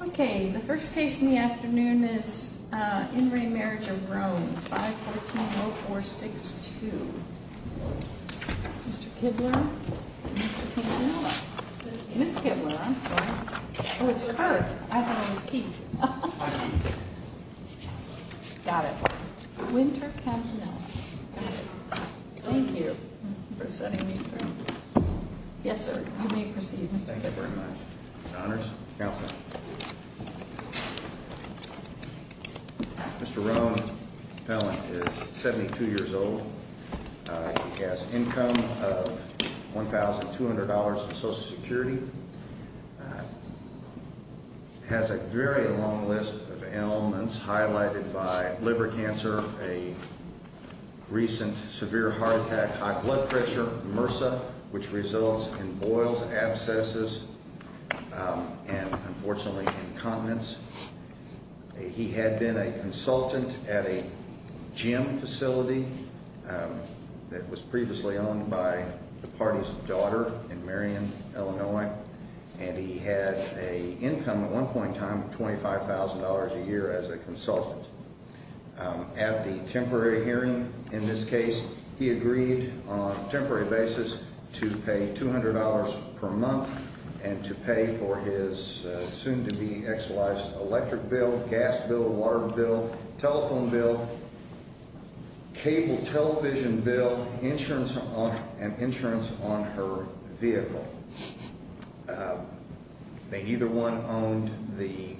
Okay, the first case in the afternoon is in re Marriage of Rone 514-0462. Mr. Kibler? Mr. Campanella? Miss Kibler, I'm sorry. Oh, it's her. I thought it was Keith. Got it. Winter Campanella. Got it. Thank you for setting me through. Yes, sir. You may proceed. Thank you very much. Mr. Rone Pellant is 72 years old. He has income of $1,200 in Social Security. Has a very long list of ailments highlighted by liver cancer. A recent severe heart attack, high blood pressure, MRSA, which results in boils, abscesses, and unfortunately, incontinence. He had been a consultant at a gym facility that was previously owned by the party's daughter in Marion, Illinois. And he had a income at one point in time of $25,000 a year as a consultant. At the temporary hearing in this case, he agreed on a temporary basis to pay $200 per month and to pay for his soon-to-be-exilized electric bill, gas bill, water bill, telephone bill, cable television bill, and insurance on her vehicle. Neither one owned the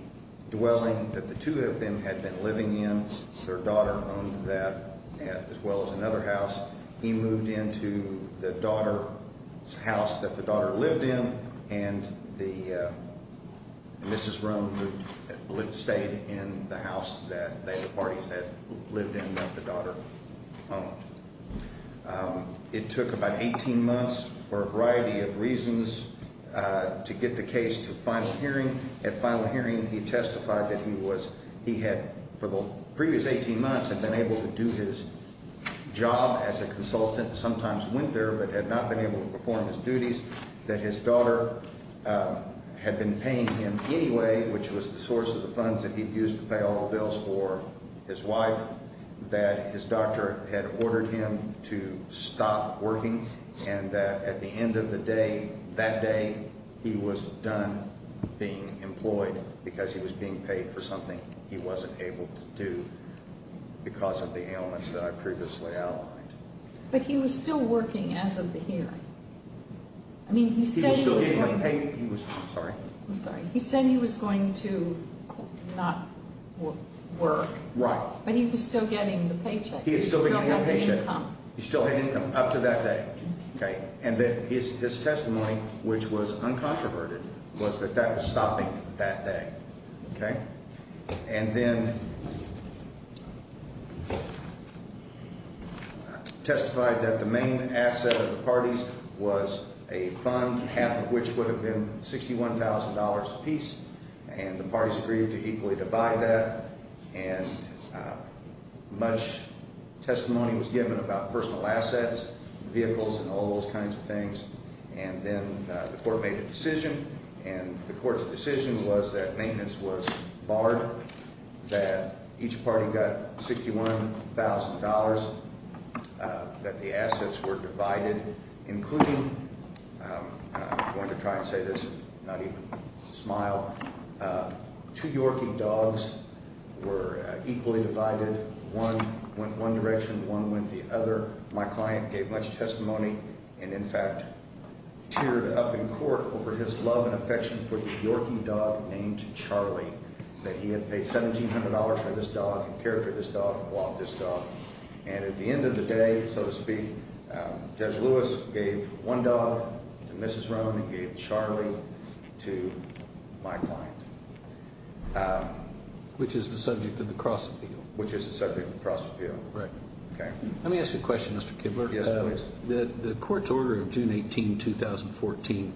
dwelling that the two of them had been living in. Their daughter owned that as well as another house. He moved into the daughter's house that the daughter lived in, and Mrs. Rone stayed in the house that the parties had lived in that the daughter owned. It took about 18 months for a variety of reasons to get the case to final hearing. At final hearing, he testified that he had, for the previous 18 months, been able to do his job as a consultant, sometimes went there, but had not been able to perform his duties, that his daughter had been paying him anyway, which was the source of the funds that he'd used to pay all the bills for his wife, that his doctor had ordered him to stop working, and that at the end of the day, that day, he was done being employed because he was being paid for something he wasn't able to do because of the ailments that I previously outlined. But he was still working as of the hearing. I mean, he said he was going to... He was still being paid. He was... I'm sorry. I'm sorry. He said he was going to not work. Right. But he was still getting the paycheck. He was still getting the paycheck. He still had the income. He still had income up to that day, okay? And then his testimony, which was uncontroverted, was that that was stopping that day, okay? And then testified that the main asset of the parties was a fund, half of which would have been $61,000 apiece, and the parties agreed to equally divide that. And much testimony was given about personal assets, vehicles, and all those kinds of things. And then the court made a decision, and the court's decision was that maintenance was barred, that each party got $61,000, that the assets were divided, including... I'm going to try and say this and not even smile. Two Yorkie dogs were equally divided. One went one direction, one went the other. My client gave much testimony and, in fact, teared up in court over his love and affection for the Yorkie dog named Charlie, that he had paid $1,700 for this dog and cared for this dog and loved this dog. And at the end of the day, so to speak, Judge Lewis gave $1 to Mrs. Roan and gave Charlie to my client. Which is the subject of the cross-appeal. Which is the subject of the cross-appeal. Right. Okay. Let me ask you a question, Mr. Kibler. Yes, please. The court's order of June 18, 2014,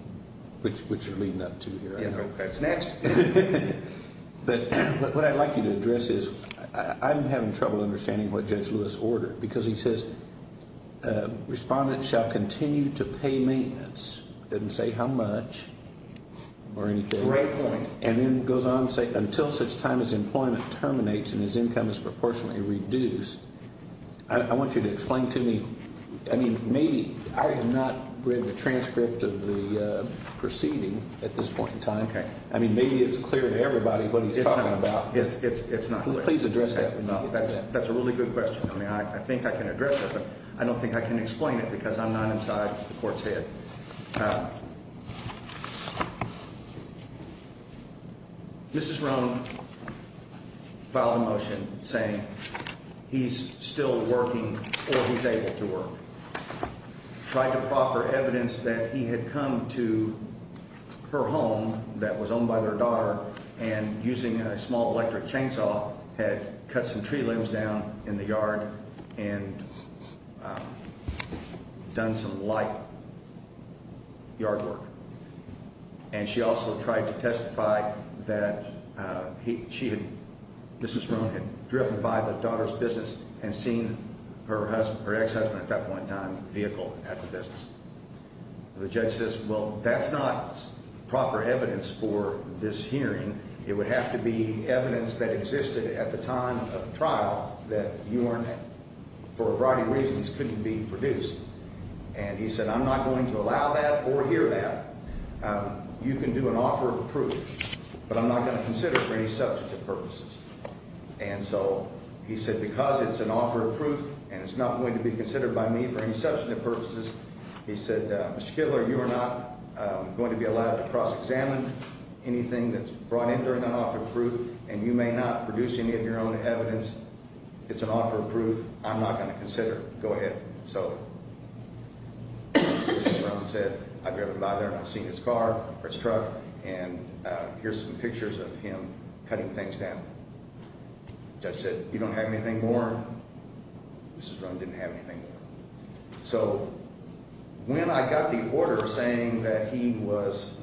which you're leading up to here... Yeah, okay. It's next. But what I'd like you to address is I'm having trouble understanding what Judge Lewis ordered. Because he says respondents shall continue to pay maintenance. Doesn't say how much or anything. Right point. And then goes on to say until such time as employment terminates and his income is proportionately reduced. I want you to explain to me, I mean, maybe I have not read the transcript of the proceeding at this point in time. Okay. I mean, maybe it's clear to everybody what he's talking about. It's not clear. Please address that. That's a really good question. I mean, I think I can address it, but I don't think I can explain it because I'm not inside the court's head. Mrs. Roan filed a motion saying he's still working or he's able to work. Tried to offer evidence that he had come to her home that was owned by their daughter and using a small electric chainsaw had cut some tree limbs down in the yard and done some light yard work. And she also tried to testify that she had, Mrs. Roan had driven by the daughter's business and seen her ex-husband at that point in time vehicle at the business. The judge says, well, that's not proper evidence for this hearing. It would have to be evidence that existed at the time of trial that for a variety of reasons couldn't be produced. And he said, I'm not going to allow that or hear that. You can do an offer of proof, but I'm not going to consider it for any substantive purposes. And so he said, because it's an offer of proof and it's not going to be considered by me for any substantive purposes, he said, Mr. Kittler, you are not going to be allowed to cross-examine anything that's brought in during that offer of proof, and you may not produce any of your own evidence. It's an offer of proof. I'm not going to consider it. Go ahead. So Mrs. Roan said, I've driven by there and I've seen his car or his truck, and here's some pictures of him cutting things down. The judge said, you don't have anything more? Mrs. Roan didn't have anything more. So when I got the order saying that he was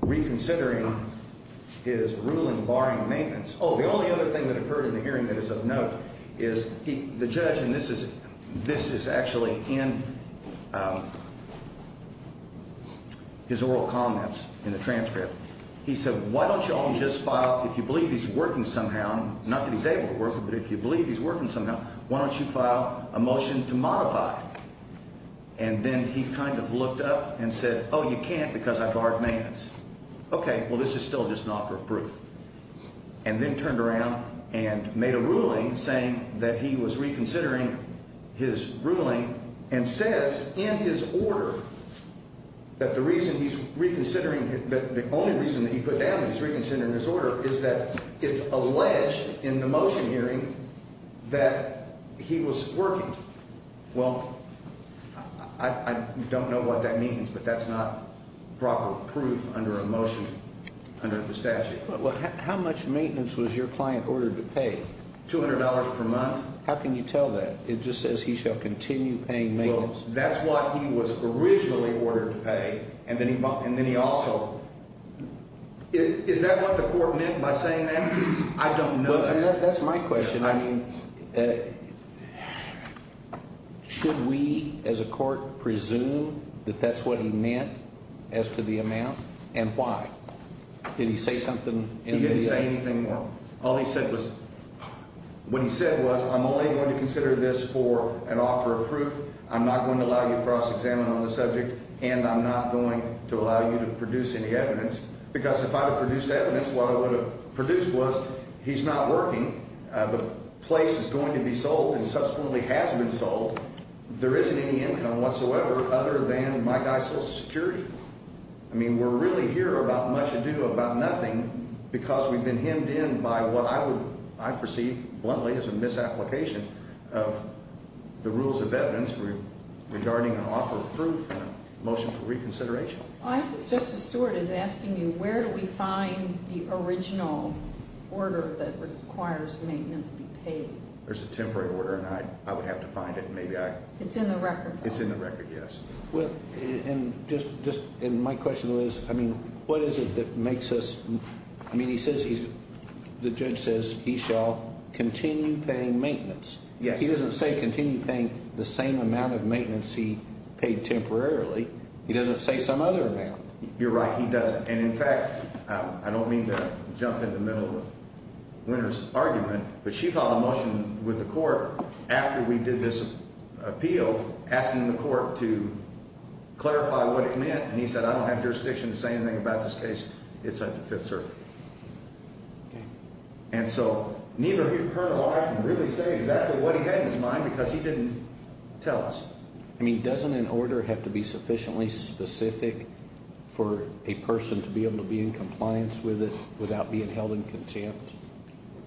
reconsidering his ruling barring maintenance, oh, the only other thing that occurred in the hearing that is of note is the judge, and this is actually in his oral comments in the transcript. He said, why don't you all just file, if you believe he's working somehow, not that he's able to work, but if you believe he's working somehow, why don't you file a motion to modify? And then he kind of looked up and said, oh, you can't because I barred maintenance. Okay, well, this is still just an offer of proof. And then turned around and made a ruling saying that he was reconsidering his ruling and says in his order that the reason he's reconsidering, the only reason that he put down that he's reconsidering his order is that it's alleged in the motion hearing that he was working. Well, I don't know what that means, but that's not proper proof under a motion under the statute. Well, how much maintenance was your client ordered to pay? $200 per month. How can you tell that? It just says he shall continue paying maintenance. Well, that's what he was originally ordered to pay, and then he also – is that what the court meant by saying that? I don't know that. That's my question. I mean, should we as a court presume that that's what he meant as to the amount and why? Did he say something? He didn't say anything more. All he said was – what he said was I'm only going to consider this for an offer of proof. I'm not going to allow you to cross-examine on the subject, and I'm not going to allow you to produce any evidence because if I had produced evidence, what I would have produced was he's not working, the place is going to be sold, and subsequently has been sold, there isn't any income whatsoever other than my guy's Social Security. I mean, we're really here about much ado about nothing because we've been hemmed in by what I would – I perceive bluntly as a misapplication of the rules of evidence regarding an offer of proof and a motion for reconsideration. Justice Stewart is asking you, where do we find the original order that requires maintenance be paid? There's a temporary order, and I would have to find it. It's in the record, though. It's in the record, yes. Well, and just – and my question was, I mean, what is it that makes us – I mean, he says he's – the judge says he shall continue paying maintenance. He doesn't say continue paying the same amount of maintenance he paid temporarily. He doesn't say some other amount. You're right. He doesn't. And, in fact, I don't mean to jump in the middle of Winter's argument, but she filed a motion with the court after we did this appeal asking the court to clarify what it meant, and he said, I don't have jurisdiction to say anything about this case. It's at the Fifth Circuit. Okay. And so neither her nor I can really say exactly what he had in his mind because he didn't tell us. I mean, doesn't an order have to be sufficiently specific for a person to be able to be in compliance with it without being held in contempt?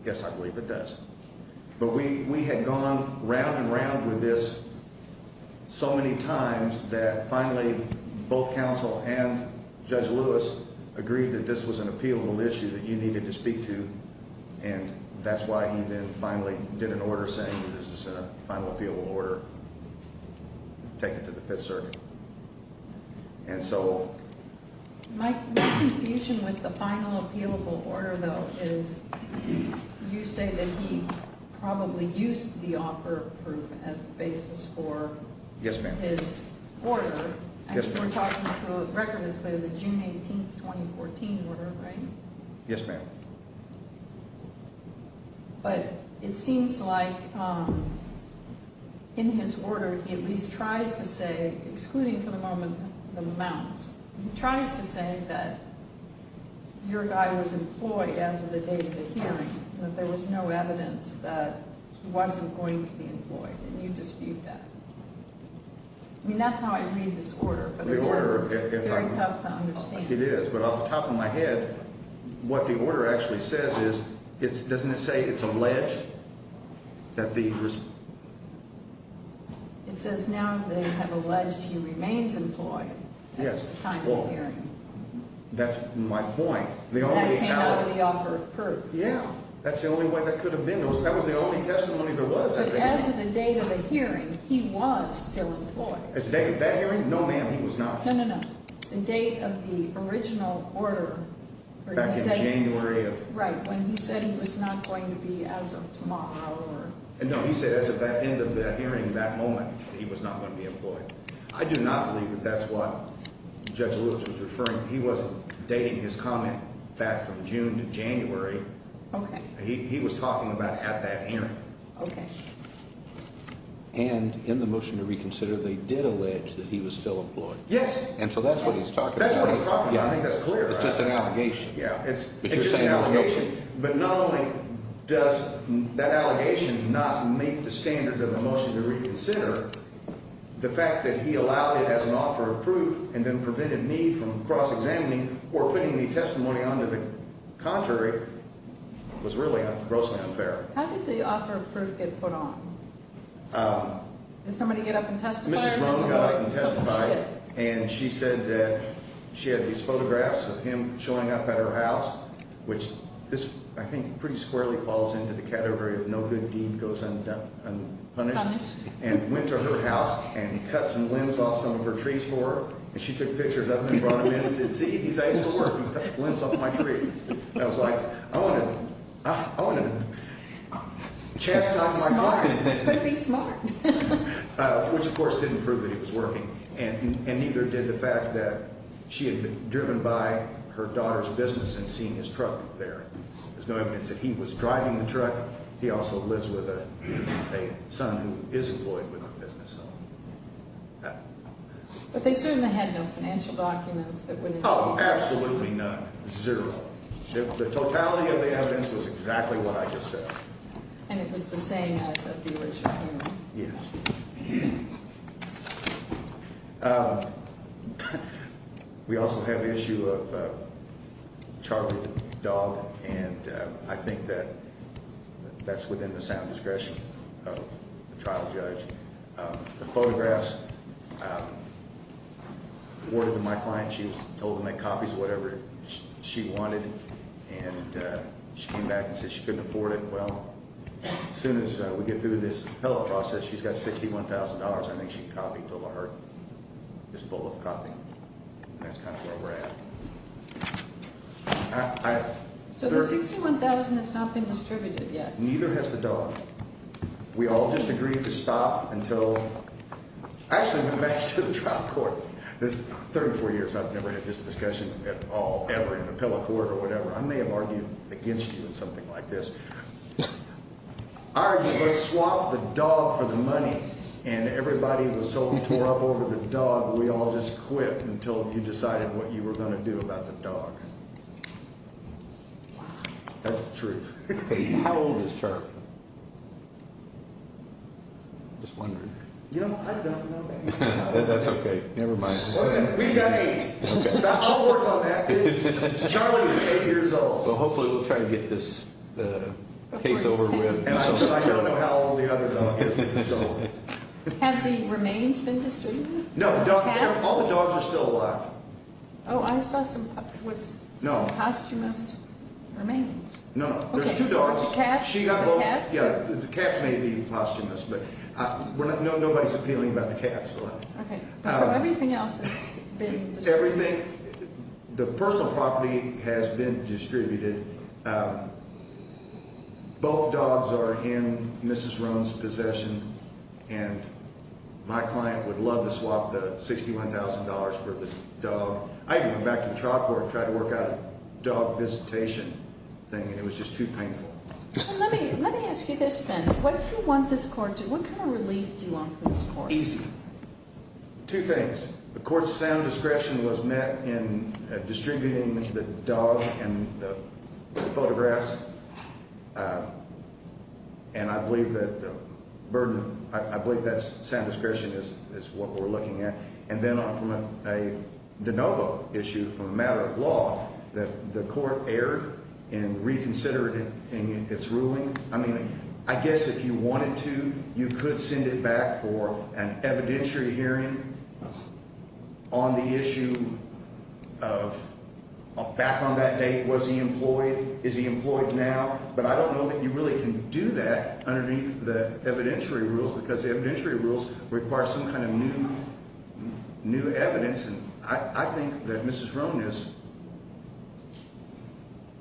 Yes, I believe it does. But we had gone round and round with this so many times that finally both counsel and Judge Lewis agreed that this was an appealable issue that you needed to speak to, and that's why he then finally did an order saying this is a final appealable order taken to the Fifth Circuit. And so my confusion with the final appealable order, though, is you say that he probably used the offer of proof as the basis for his order. Yes, ma'am. I think we're talking, so the record is clear, the June 18, 2014 order, right? Yes, ma'am. But it seems like in his order he at least tries to say, excluding for the moment the amounts, he tries to say that your guy was employed as of the date of the hearing, that there was no evidence that he wasn't going to be employed, and you dispute that. I mean, that's how I read this order, but it's very tough to understand. It is, but off the top of my head, what the order actually says is, doesn't it say it's alleged that the… It says now they have alleged he remains employed at the time of the hearing. That's my point. Because that came out of the offer of proof. Yeah, that's the only way that could have been. That was the only testimony there was at the hearing. But as of the date of the hearing, he was still employed. As of the date of that hearing? No, ma'am, he was not. No, no, no. The date of the original order… Back in January of… Right, when he said he was not going to be as of tomorrow or… No, he said as of that end of that hearing, that moment, that he was not going to be employed. I do not believe that that's what Judge Lewis was referring. He wasn't dating his comment back from June to January. Okay. He was talking about at that end. Okay. And in the motion to reconsider, they did allege that he was still employed. Yes. And so that's what he's talking about. That's what he's talking about. I think that's clear. It's just an allegation. Yeah, it's just an allegation. But not only does that allegation not meet the standards of the motion to reconsider, the fact that he allowed it as an offer of proof and then prevented me from cross-examining or putting the testimony onto the contrary was really grossly unfair. How did the offer of proof get put on? Did somebody get up and testify? And she said that she had these photographs of him showing up at her house, which this I think pretty squarely falls into the category of no good deed goes unpunished, and went to her house and cut some limbs off some of her trees for her. And she took pictures of him and brought him in and said, see, he's able to work. He cut limbs off my tree. And I was like, I want to chastise my client. Could be smart. Which, of course, didn't prove that he was working, and neither did the fact that she had been driven by her daughter's business and seen his truck there. There's no evidence that he was driving the truck. He also lives with a son who is employed with a business. But they certainly had no financial documents that would indicate that. Oh, absolutely none, zero. The totality of the evidence was exactly what I just said. And it was the same as at the original hearing? Yes. We also have the issue of a chartered dog, and I think that that's within the sound discretion of the trial judge. The photographs were awarded to my client. She was told to make copies of whatever she wanted, and she came back and said she couldn't afford it. Well, as soon as we get through this appellate process, she's got $61,000. I think she copied over her. It's full of copy. That's kind of where we're at. So the $61,000 has not been distributed yet? Neither has the dog. We all just agreed to stop until we actually went back to the trial court. 34 years, I've never had this discussion at all, ever, in an appellate court or whatever. I may have argued against you in something like this. I argued let's swap the dog for the money, and everybody was so tore up over the dog, we all just quit until you decided what you were going to do about the dog. That's the truth. How old is Charlie? I'm just wondering. You know, I don't know that. That's okay. Never mind. We've got eight. I'll work on that. Charlie is eight years old. Well, hopefully we'll try to get this case over with. I don't know how old the other dog is. Have the remains been distributed? No, all the dogs are still alive. Oh, I saw some posthumous remains. No, there's two dogs. The cats? Yeah, the cats may be posthumous, but nobody's appealing about the cats. Okay, so everything else has been distributed? Everything. The personal property has been distributed. Both dogs are in Mrs. Roan's possession, and my client would love to swap the $61,000 for the dog. I even went back to the trial court and tried to work out a dog visitation thing, and it was just too painful. Let me ask you this then. What do you want this court to do? What kind of relief do you want from this court? Easy. Two things. The court's sound discretion was met in distributing the dog and the photographs, and I believe that sound discretion is what we're looking at. And then on from a de novo issue from a matter of law, the court erred and reconsidered its ruling. I mean, I guess if you wanted to, you could send it back for an evidentiary hearing on the issue of back on that date, was he employed, is he employed now. But I don't know that you really can do that underneath the evidentiary rules, because evidentiary rules require some kind of new evidence. And I think that Mrs. Roan is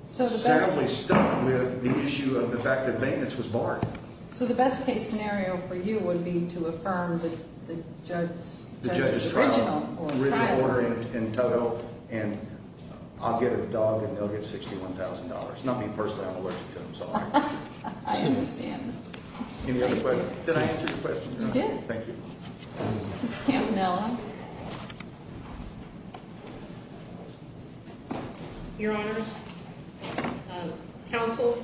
sadly stuck with the issue of the fact that maintenance was barred. So the best case scenario for you would be to affirm the judge's original trial order? And I'll get a dog and they'll get $61,000. Not me personally. I'm allergic to them, so I understand. Any other questions? Did I answer your question? You did. Thank you. Ms. Campanella. Your Honors, Counsel,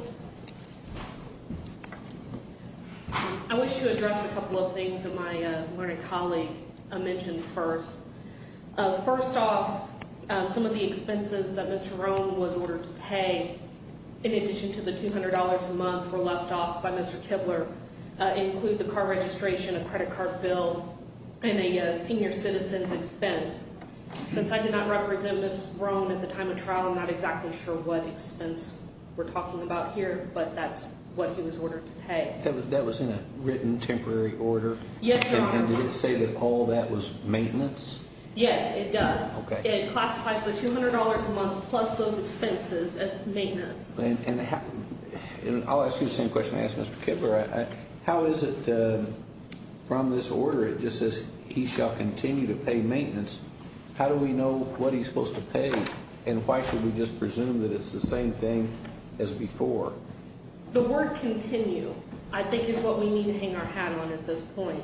I wish to address a couple of things that my learned colleague mentioned first. First off, some of the expenses that Mr. Roan was ordered to pay, in addition to the $200 a month were left off by Mr. Kibler, include the car registration, a credit card bill, and a senior citizen's expense. Since I did not represent Ms. Roan at the time of trial, I'm not exactly sure what expense we're talking about here, but that's what he was ordered to pay. That was in a written temporary order? Yes, Your Honors. And did it say that all that was maintenance? Yes, it does. It classifies the $200 a month plus those expenses as maintenance. And I'll ask you the same question I asked Mr. Kibler. How is it from this order, it just says he shall continue to pay maintenance. How do we know what he's supposed to pay and why should we just presume that it's the same thing as before? The word continue I think is what we need to hang our hat on at this point.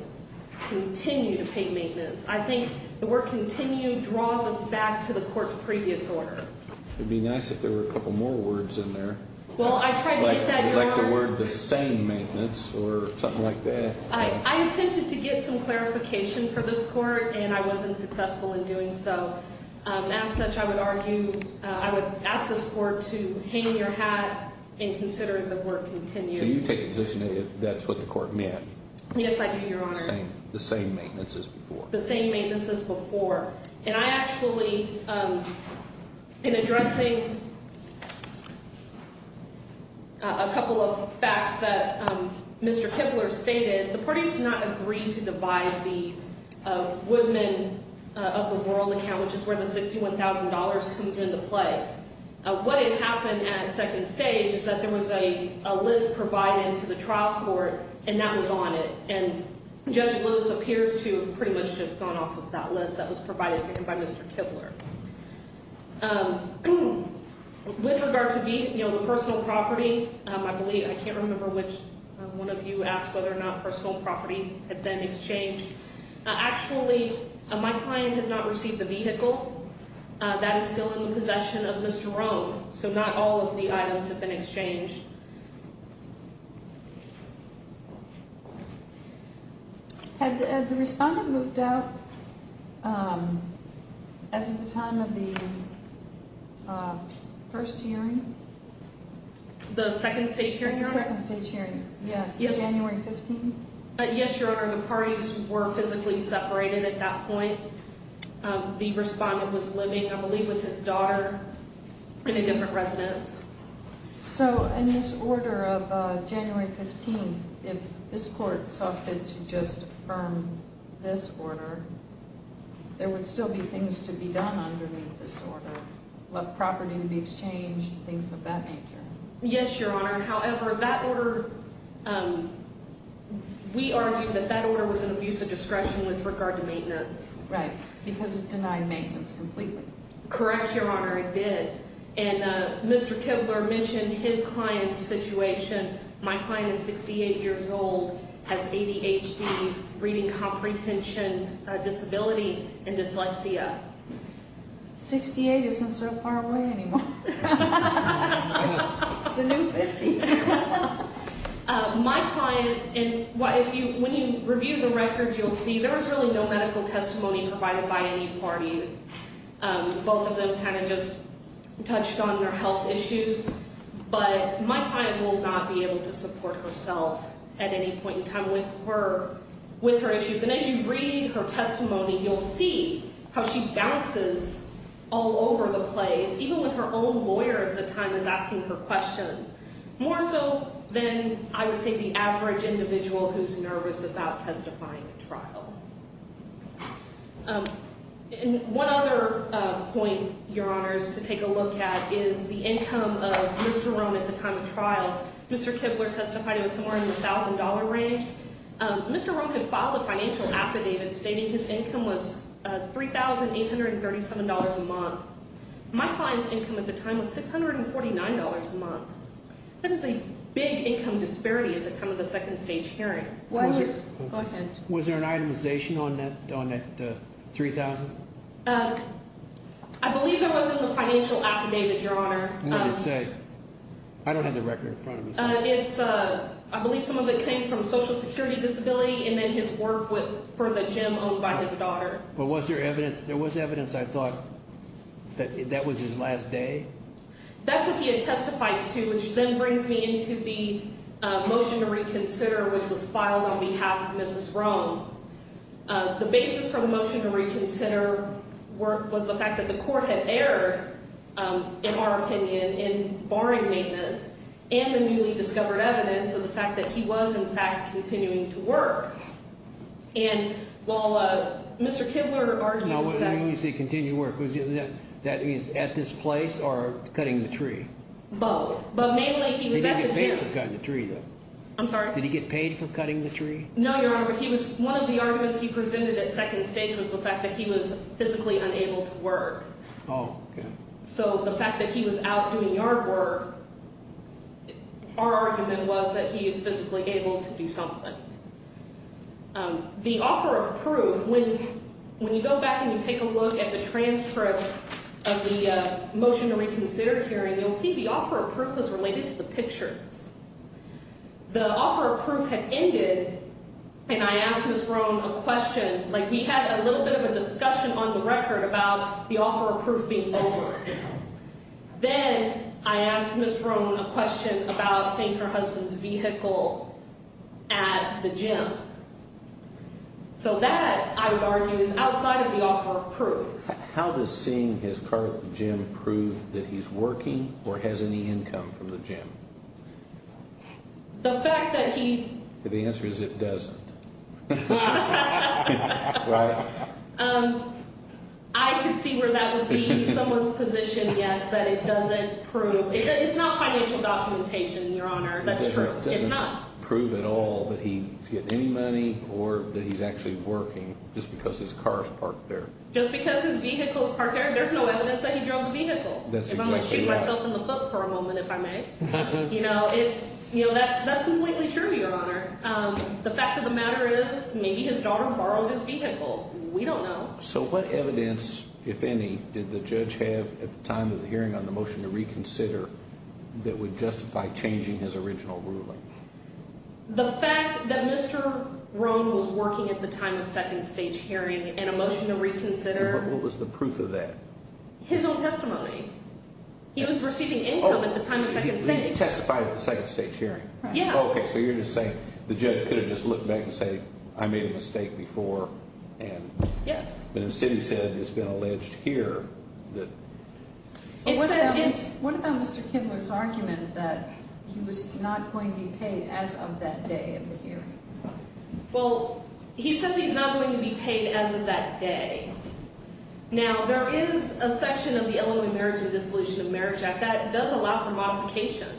Continue to pay maintenance. I think the word continue draws us back to the court's previous order. It would be nice if there were a couple more words in there. Well, I tried to get that going. Like the word the same maintenance or something like that. I attempted to get some clarification for this court and I wasn't successful in doing so. As such, I would argue, I would ask this court to hang your hat in considering the word continue. So you take the position that that's what the court meant? Yes, I do, Your Honor. The same maintenance as before. The same maintenance as before. And I actually, in addressing a couple of facts that Mr. Kibler stated, the parties did not agree to divide the Woodman of the World account, which is where the $61,000 comes into play. What had happened at second stage is that there was a list provided to the trial court and that was on it. And Judge Loos appears to have pretty much just gone off of that list that was provided to him by Mr. Kibler. With regard to the personal property, I believe, I can't remember which one of you asked whether or not personal property had been exchanged. Actually, my client has not received the vehicle. That is still in the possession of Mr. Rome, so not all of the items have been exchanged. Had the respondent moved out as of the time of the first hearing? The second stage hearing? The second stage hearing, yes, January 15th. Yes, Your Honor, the parties were physically separated at that point. The respondent was living, I believe, with his daughter in a different residence. So, in this order of January 15th, if this court softened to just affirm this order, there would still be things to be done underneath this order, let property be exchanged, things of that nature. Yes, Your Honor, however, that order, we argued that that order was an abuse of discretion with regard to maintenance. Right, because it denied maintenance completely. Correct, Your Honor, it did. And Mr. Kibler mentioned his client's situation. My client is 68 years old, has ADHD, reading comprehension disability, and dyslexia. 68 isn't so far away anymore. It's the new 50. My client, when you review the records, you'll see there was really no medical testimony provided by any party. Both of them kind of just touched on their health issues. But my client will not be able to support herself at any point in time with her issues. And as you read her testimony, you'll see how she bounces all over the place, even when her own lawyer at the time is asking her questions, more so than, I would say, the average individual who's nervous about testifying at trial. One other point, Your Honors, to take a look at is the income of Mr. Rohn at the time of trial. Mr. Kibler testified he was somewhere in the $1,000 range. Mr. Rohn had filed a financial affidavit stating his income was $3,837 a month. My client's income at the time was $649 a month. That is a big income disparity at the time of the second stage hearing. Go ahead. Was there an itemization on that $3,000? I believe that was in the financial affidavit, Your Honor. What did it say? I don't have the record in front of me. I believe some of it came from Social Security disability and then his work for the gym owned by his daughter. But was there evidence? There was evidence, I thought, that that was his last day. That's what he had testified to, which then brings me into the motion to reconsider, which was filed on behalf of Mrs. Rohn. The basis for the motion to reconsider was the fact that the court had erred, in our opinion, in barring maintenance, and the newly discovered evidence of the fact that he was, in fact, continuing to work. And while Mr. Kibler argued that… Now, what do you mean when you say continue to work? That means at this place or cutting the tree? Both, but mainly he was at the gym. He didn't get paid for cutting the tree, though. I'm sorry? Did he get paid for cutting the tree? No, Your Honor, but he was… One of the arguments he presented at second stage was the fact that he was physically unable to work. Oh, okay. So the fact that he was out doing yard work, our argument was that he is physically able to do something. The offer of proof, when you go back and you take a look at the transcript of the motion to reconsider hearing, you'll see the offer of proof is related to the pictures. The offer of proof had ended, and I asked Ms. Roan a question. Like, we had a little bit of a discussion on the record about the offer of proof being over. Then I asked Ms. Roan a question about seeing her husband's vehicle at the gym. So that, I would argue, is outside of the offer of proof. How does seeing his car at the gym prove that he's working or has any income from the gym? The fact that he… The answer is it doesn't. Right? I can see where that would be someone's position, yes, that it doesn't prove. It's not financial documentation, Your Honor. That's true. It's not. It doesn't prove at all that he's getting any money or that he's actually working just because his car is parked there. Just because his vehicle is parked there, there's no evidence that he drove the vehicle. That's exactly right. If I may shoot myself in the foot for a moment, if I may. You know, that's completely true, Your Honor. The fact of the matter is maybe his daughter borrowed his vehicle. We don't know. So what evidence, if any, did the judge have at the time of the hearing on the motion to reconsider that would justify changing his original ruling? The fact that Mr. Rohn was working at the time of second stage hearing and a motion to reconsider… What was the proof of that? His own testimony. He was receiving income at the time of second stage. Oh, he testified at the second stage hearing. Yeah. Okay, so you're just saying the judge could have just looked back and said I made a mistake before and… Yes. But instead he said it's been alleged here that… What about Mr. Kindler's argument that he was not going to be paid as of that day of the hearing? Well, he says he's not going to be paid as of that day. Now, there is a section of the Illinois Marriage and Dissolution of Marriage Act that does allow for modification.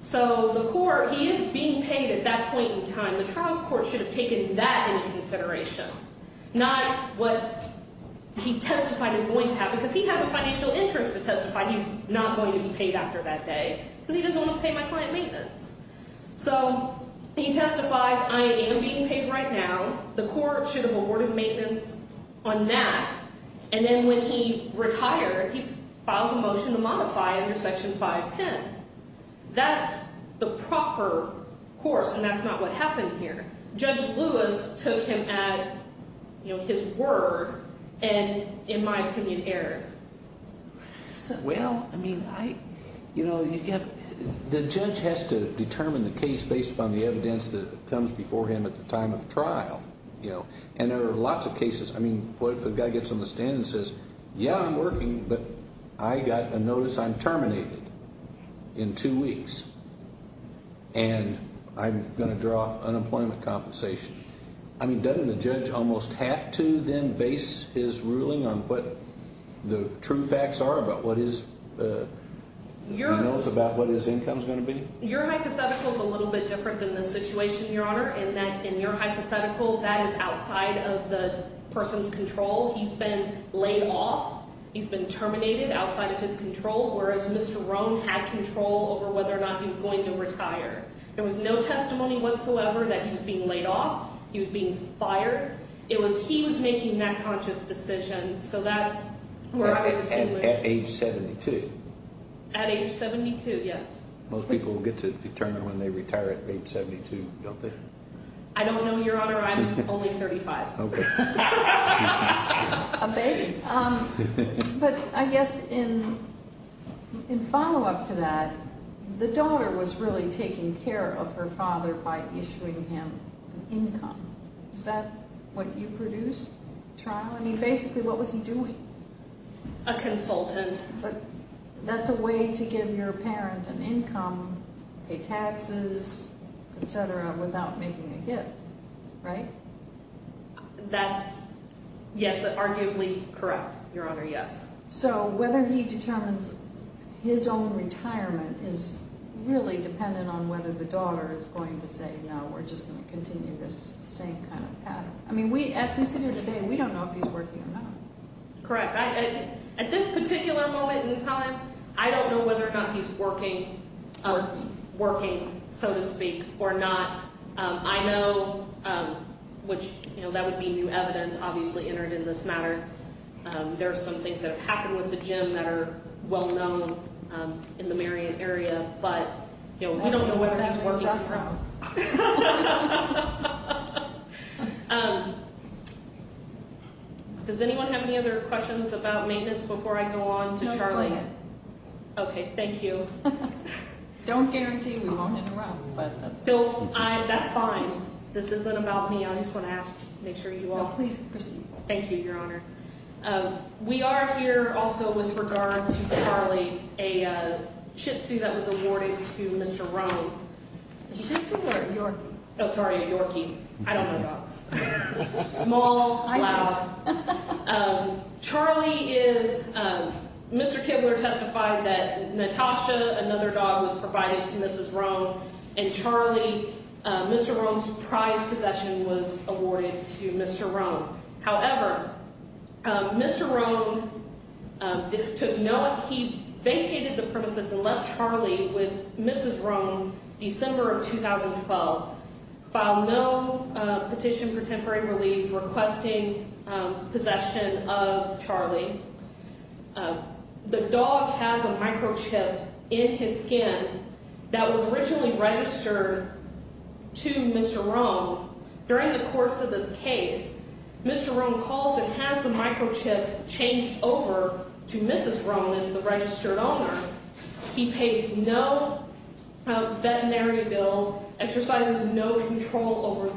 So the court, he is being paid at that point in time. The trial court should have taken that into consideration, not what he testified is going to have because he has a financial interest to testify. He's not going to be paid after that day because he doesn't want to pay my client maintenance. So he testifies I am being paid right now. The court should have awarded maintenance on that. And then when he retired, he filed a motion to modify under Section 510. That's the proper course, and that's not what happened here. Judge Lewis took him at his word and, in my opinion, erred. Well, I mean, you know, the judge has to determine the case based upon the evidence that comes before him at the time of trial. And there are lots of cases. I mean, what if a guy gets on the stand and says, yeah, I'm working, but I got a notice I'm terminated in two weeks. And I'm going to draw unemployment compensation. I mean, doesn't the judge almost have to then base his ruling on what the true facts are about what his income is going to be? Your hypothetical is a little bit different than the situation, Your Honor, in that in your hypothetical, that is outside of the person's control. He's been laid off. He's been terminated outside of his control, whereas Mr. Rohn had control over whether or not he was going to retire. There was no testimony whatsoever that he was being laid off. He was being fired. It was he was making that conscious decision. So that's where I would assume it. At age 72? At age 72, yes. Most people will get to determine when they retire at age 72, don't they? I don't know, Your Honor. I'm only 35. Okay. A baby. But I guess in follow-up to that, the daughter was really taking care of her father by issuing him an income. Is that what you produced, trial? I mean, basically, what was he doing? A consultant. But that's a way to give your parent an income, pay taxes, et cetera, without making a gift, right? That's, yes, arguably correct, Your Honor, yes. So whether he determines his own retirement is really dependent on whether the daughter is going to say, no, we're just going to continue this same kind of pattern. I mean, as we sit here today, we don't know if he's working or not. Correct. At this particular moment in time, I don't know whether or not he's working, so to speak, or not. I know, which, you know, that would be new evidence, obviously, entered in this matter. There are some things that have happened with the gym that are well known in the Marion area, but, you know, we don't know whether he's working. Well, that works out for us. Does anyone have any other questions about maintenance before I go on to Charlie? No, you're playing it. Okay. Thank you. Don't guarantee we won't interrupt. That's fine. This isn't about me. I just want to ask, make sure you all- No, please proceed. Thank you, Your Honor. We are here also with regard to Charlie, a shih tzu that was awarded to Mr. Roan. A shih tzu or a yorkie? Oh, sorry, a yorkie. I don't know dogs. Small, loud. Charlie is, Mr. Kibler testified that Natasha, another dog, was provided to Mrs. Roan, and Charlie, Mr. Roan's prized possession was awarded to Mr. Roan. However, Mr. Roan took no, he vacated the premises and left Charlie with Mrs. Roan December of 2012. Filed no petition for temporary release requesting possession of Charlie. The dog has a microchip in his skin that was originally registered to Mr. Roan. During the course of this case, Mr. Roan calls and has the microchip changed over to Mrs. Roan as the registered owner. He pays no veterinary bills, exercises no control over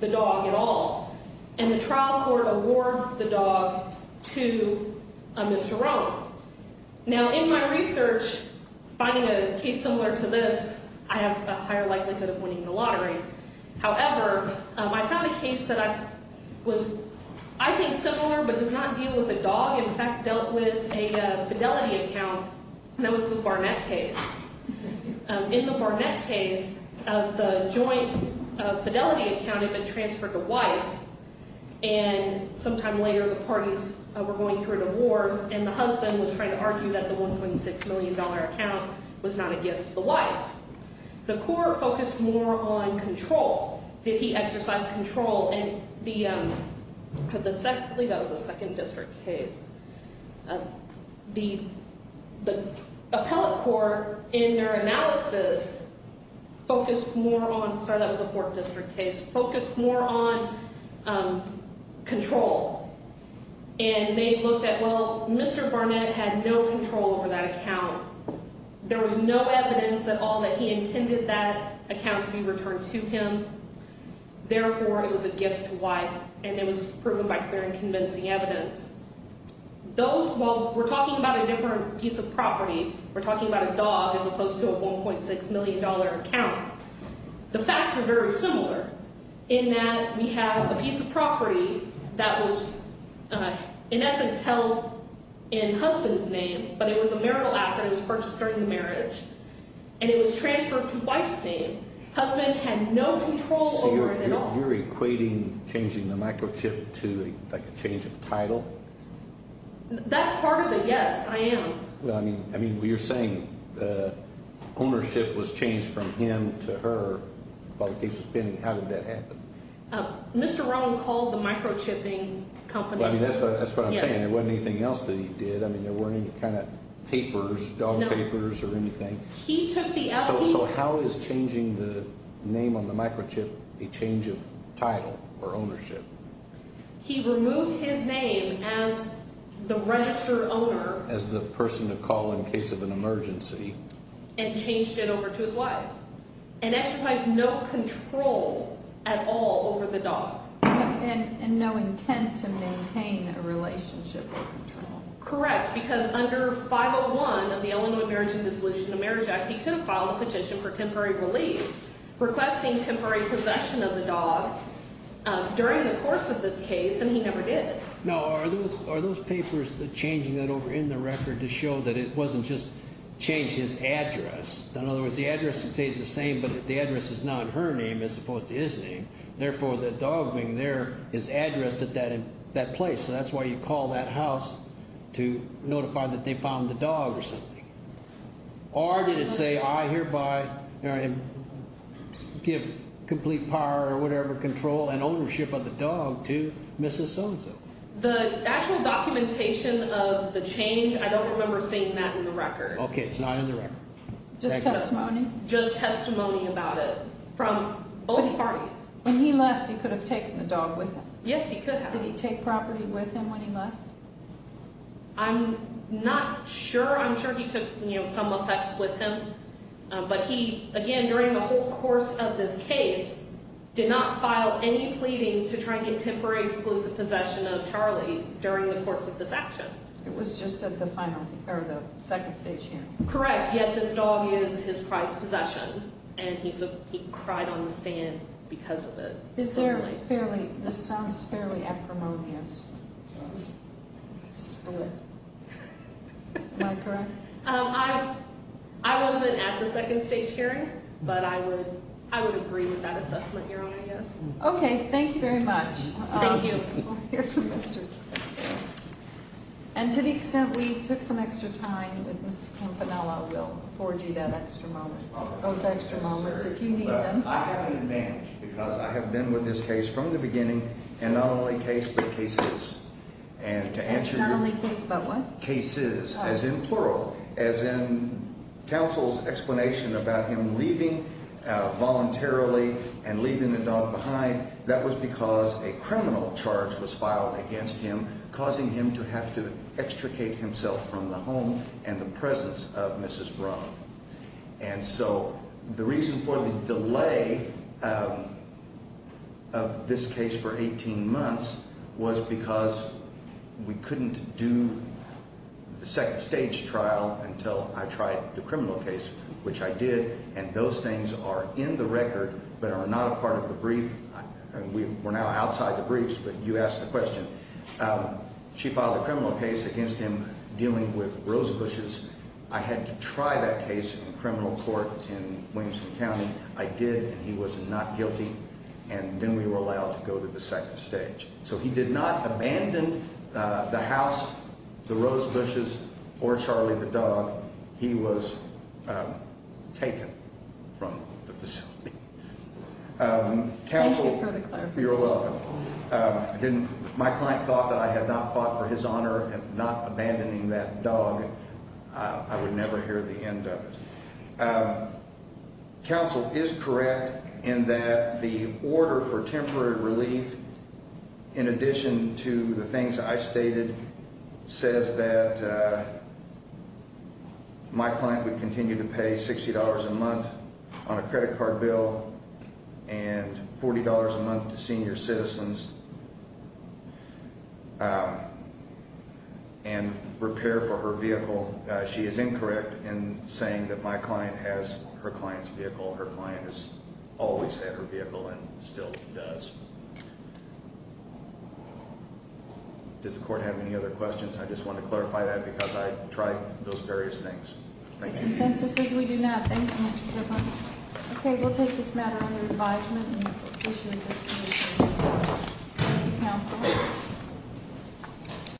the dog at all. And the trial court awards the dog to Mr. Roan. Now, in my research, finding a case similar to this, I have a higher likelihood of winning the lottery. However, I found a case that I was, I think, similar but does not deal with a dog. In fact, dealt with a fidelity account, and that was the Barnett case. In the Barnett case, the joint fidelity account had been transferred to wife, and sometime later the parties were going through a divorce, and the husband was trying to argue that the $1.6 million account was not a gift to the wife. The court focused more on control. Did he exercise control? That was a second district case. The appellate court, in their analysis, focused more on, sorry, that was a fourth district case, focused more on control. And they looked at, well, Mr. Barnett had no control over that account. There was no evidence at all that he intended that account to be returned to him. Therefore, it was a gift to wife, and it was proven by clear and convincing evidence. Those, well, we're talking about a different piece of property. We're talking about a dog as opposed to a $1.6 million account. The facts are very similar in that we have a piece of property that was, in essence, held in husband's name, but it was a marital asset. It was purchased during the marriage, and it was transferred to wife's name. Husband had no control over it at all. So you're equating changing the microchip to, like, a change of title? That's part of it, yes, I am. Well, I mean, you're saying ownership was changed from him to her while the case was pending. How did that happen? Mr. Rohn called the microchipping company. Well, I mean, that's what I'm saying. There wasn't anything else that he did. I mean, there weren't any kind of papers, dog papers or anything. So how is changing the name on the microchip a change of title or ownership? He removed his name as the registered owner. As the person to call in case of an emergency. And changed it over to his wife, and exercised no control at all over the dog. Correct, because under 501 of the Illinois Marriage and Dissolution of Marriage Act, he could have filed a petition for temporary relief, requesting temporary possession of the dog during the course of this case, and he never did. Now, are those papers changing that over in the record to show that it wasn't just changed his address? In other words, the address stayed the same, but the address is now in her name as opposed to his name. Therefore, the dog being there is addressed at that place. So that's why you call that house to notify that they found the dog or something. Or did it say, I hereby give complete power or whatever control and ownership of the dog to Mrs. So-and-so. The actual documentation of the change, I don't remember seeing that in the record. Okay, it's not in the record. Just testimony? Just testimony about it from both parties. When he left, he could have taken the dog with him. Yes, he could have. Did he take property with him when he left? I'm not sure. I'm sure he took, you know, some effects with him. But he, again, during the whole course of this case, did not file any pleadings to try and get temporary exclusive possession of Charlie during the course of this action. It was just at the final, or the second stage here. Correct, yet this dog is his prized possession, and he cried on the stand because of it. This sounds fairly acrimonious to split. Am I correct? I wasn't at the second stage hearing, but I would agree with that assessment, Your Honor, yes. Okay, thank you very much. Thank you. We'll hear from Mr. King. And to the extent we took some extra time, Mrs. Campanella will forge you that extra moment, those extra moments, if you need them. I have an advantage because I have been with this case from the beginning, and not only case, but cases. And to answer your question. Not only case, but what? Cases, as in plural, as in counsel's explanation about him leaving voluntarily and leaving the dog behind. That was because a criminal charge was filed against him, causing him to have to extricate himself from the home and the presence of Mrs. Brown. And so the reason for the delay of this case for 18 months was because we couldn't do the second stage trial until I tried the criminal case, which I did. And those things are in the record but are not a part of the brief. We're now outside the briefs, but you asked the question. She filed a criminal case against him dealing with rose bushes. I had to try that case in a criminal court in Williamson County. I did, and he was not guilty. And then we were allowed to go to the second stage. So he did not abandon the house, the rose bushes, or Charlie the dog. He was taken from the facility. Thank you for the clarification. You're welcome. My client thought that I had not fought for his honor and not abandoning that dog. I would never hear the end of it. Counsel is correct in that the order for temporary relief, in addition to the things I stated, says that my client would continue to pay $60 a month on a credit card bill and $40 a month to senior citizens and repair for her vehicle. She is incorrect in saying that my client has her client's vehicle. Her client has always had her vehicle and still does. Does the court have any other questions? I just want to clarify that because I tried those various things. The consensus is we do not. Thank you, Mr. Gibbons. Okay, we'll take this matter under advisement and issue a disposition of divorce. Thank you, counsel.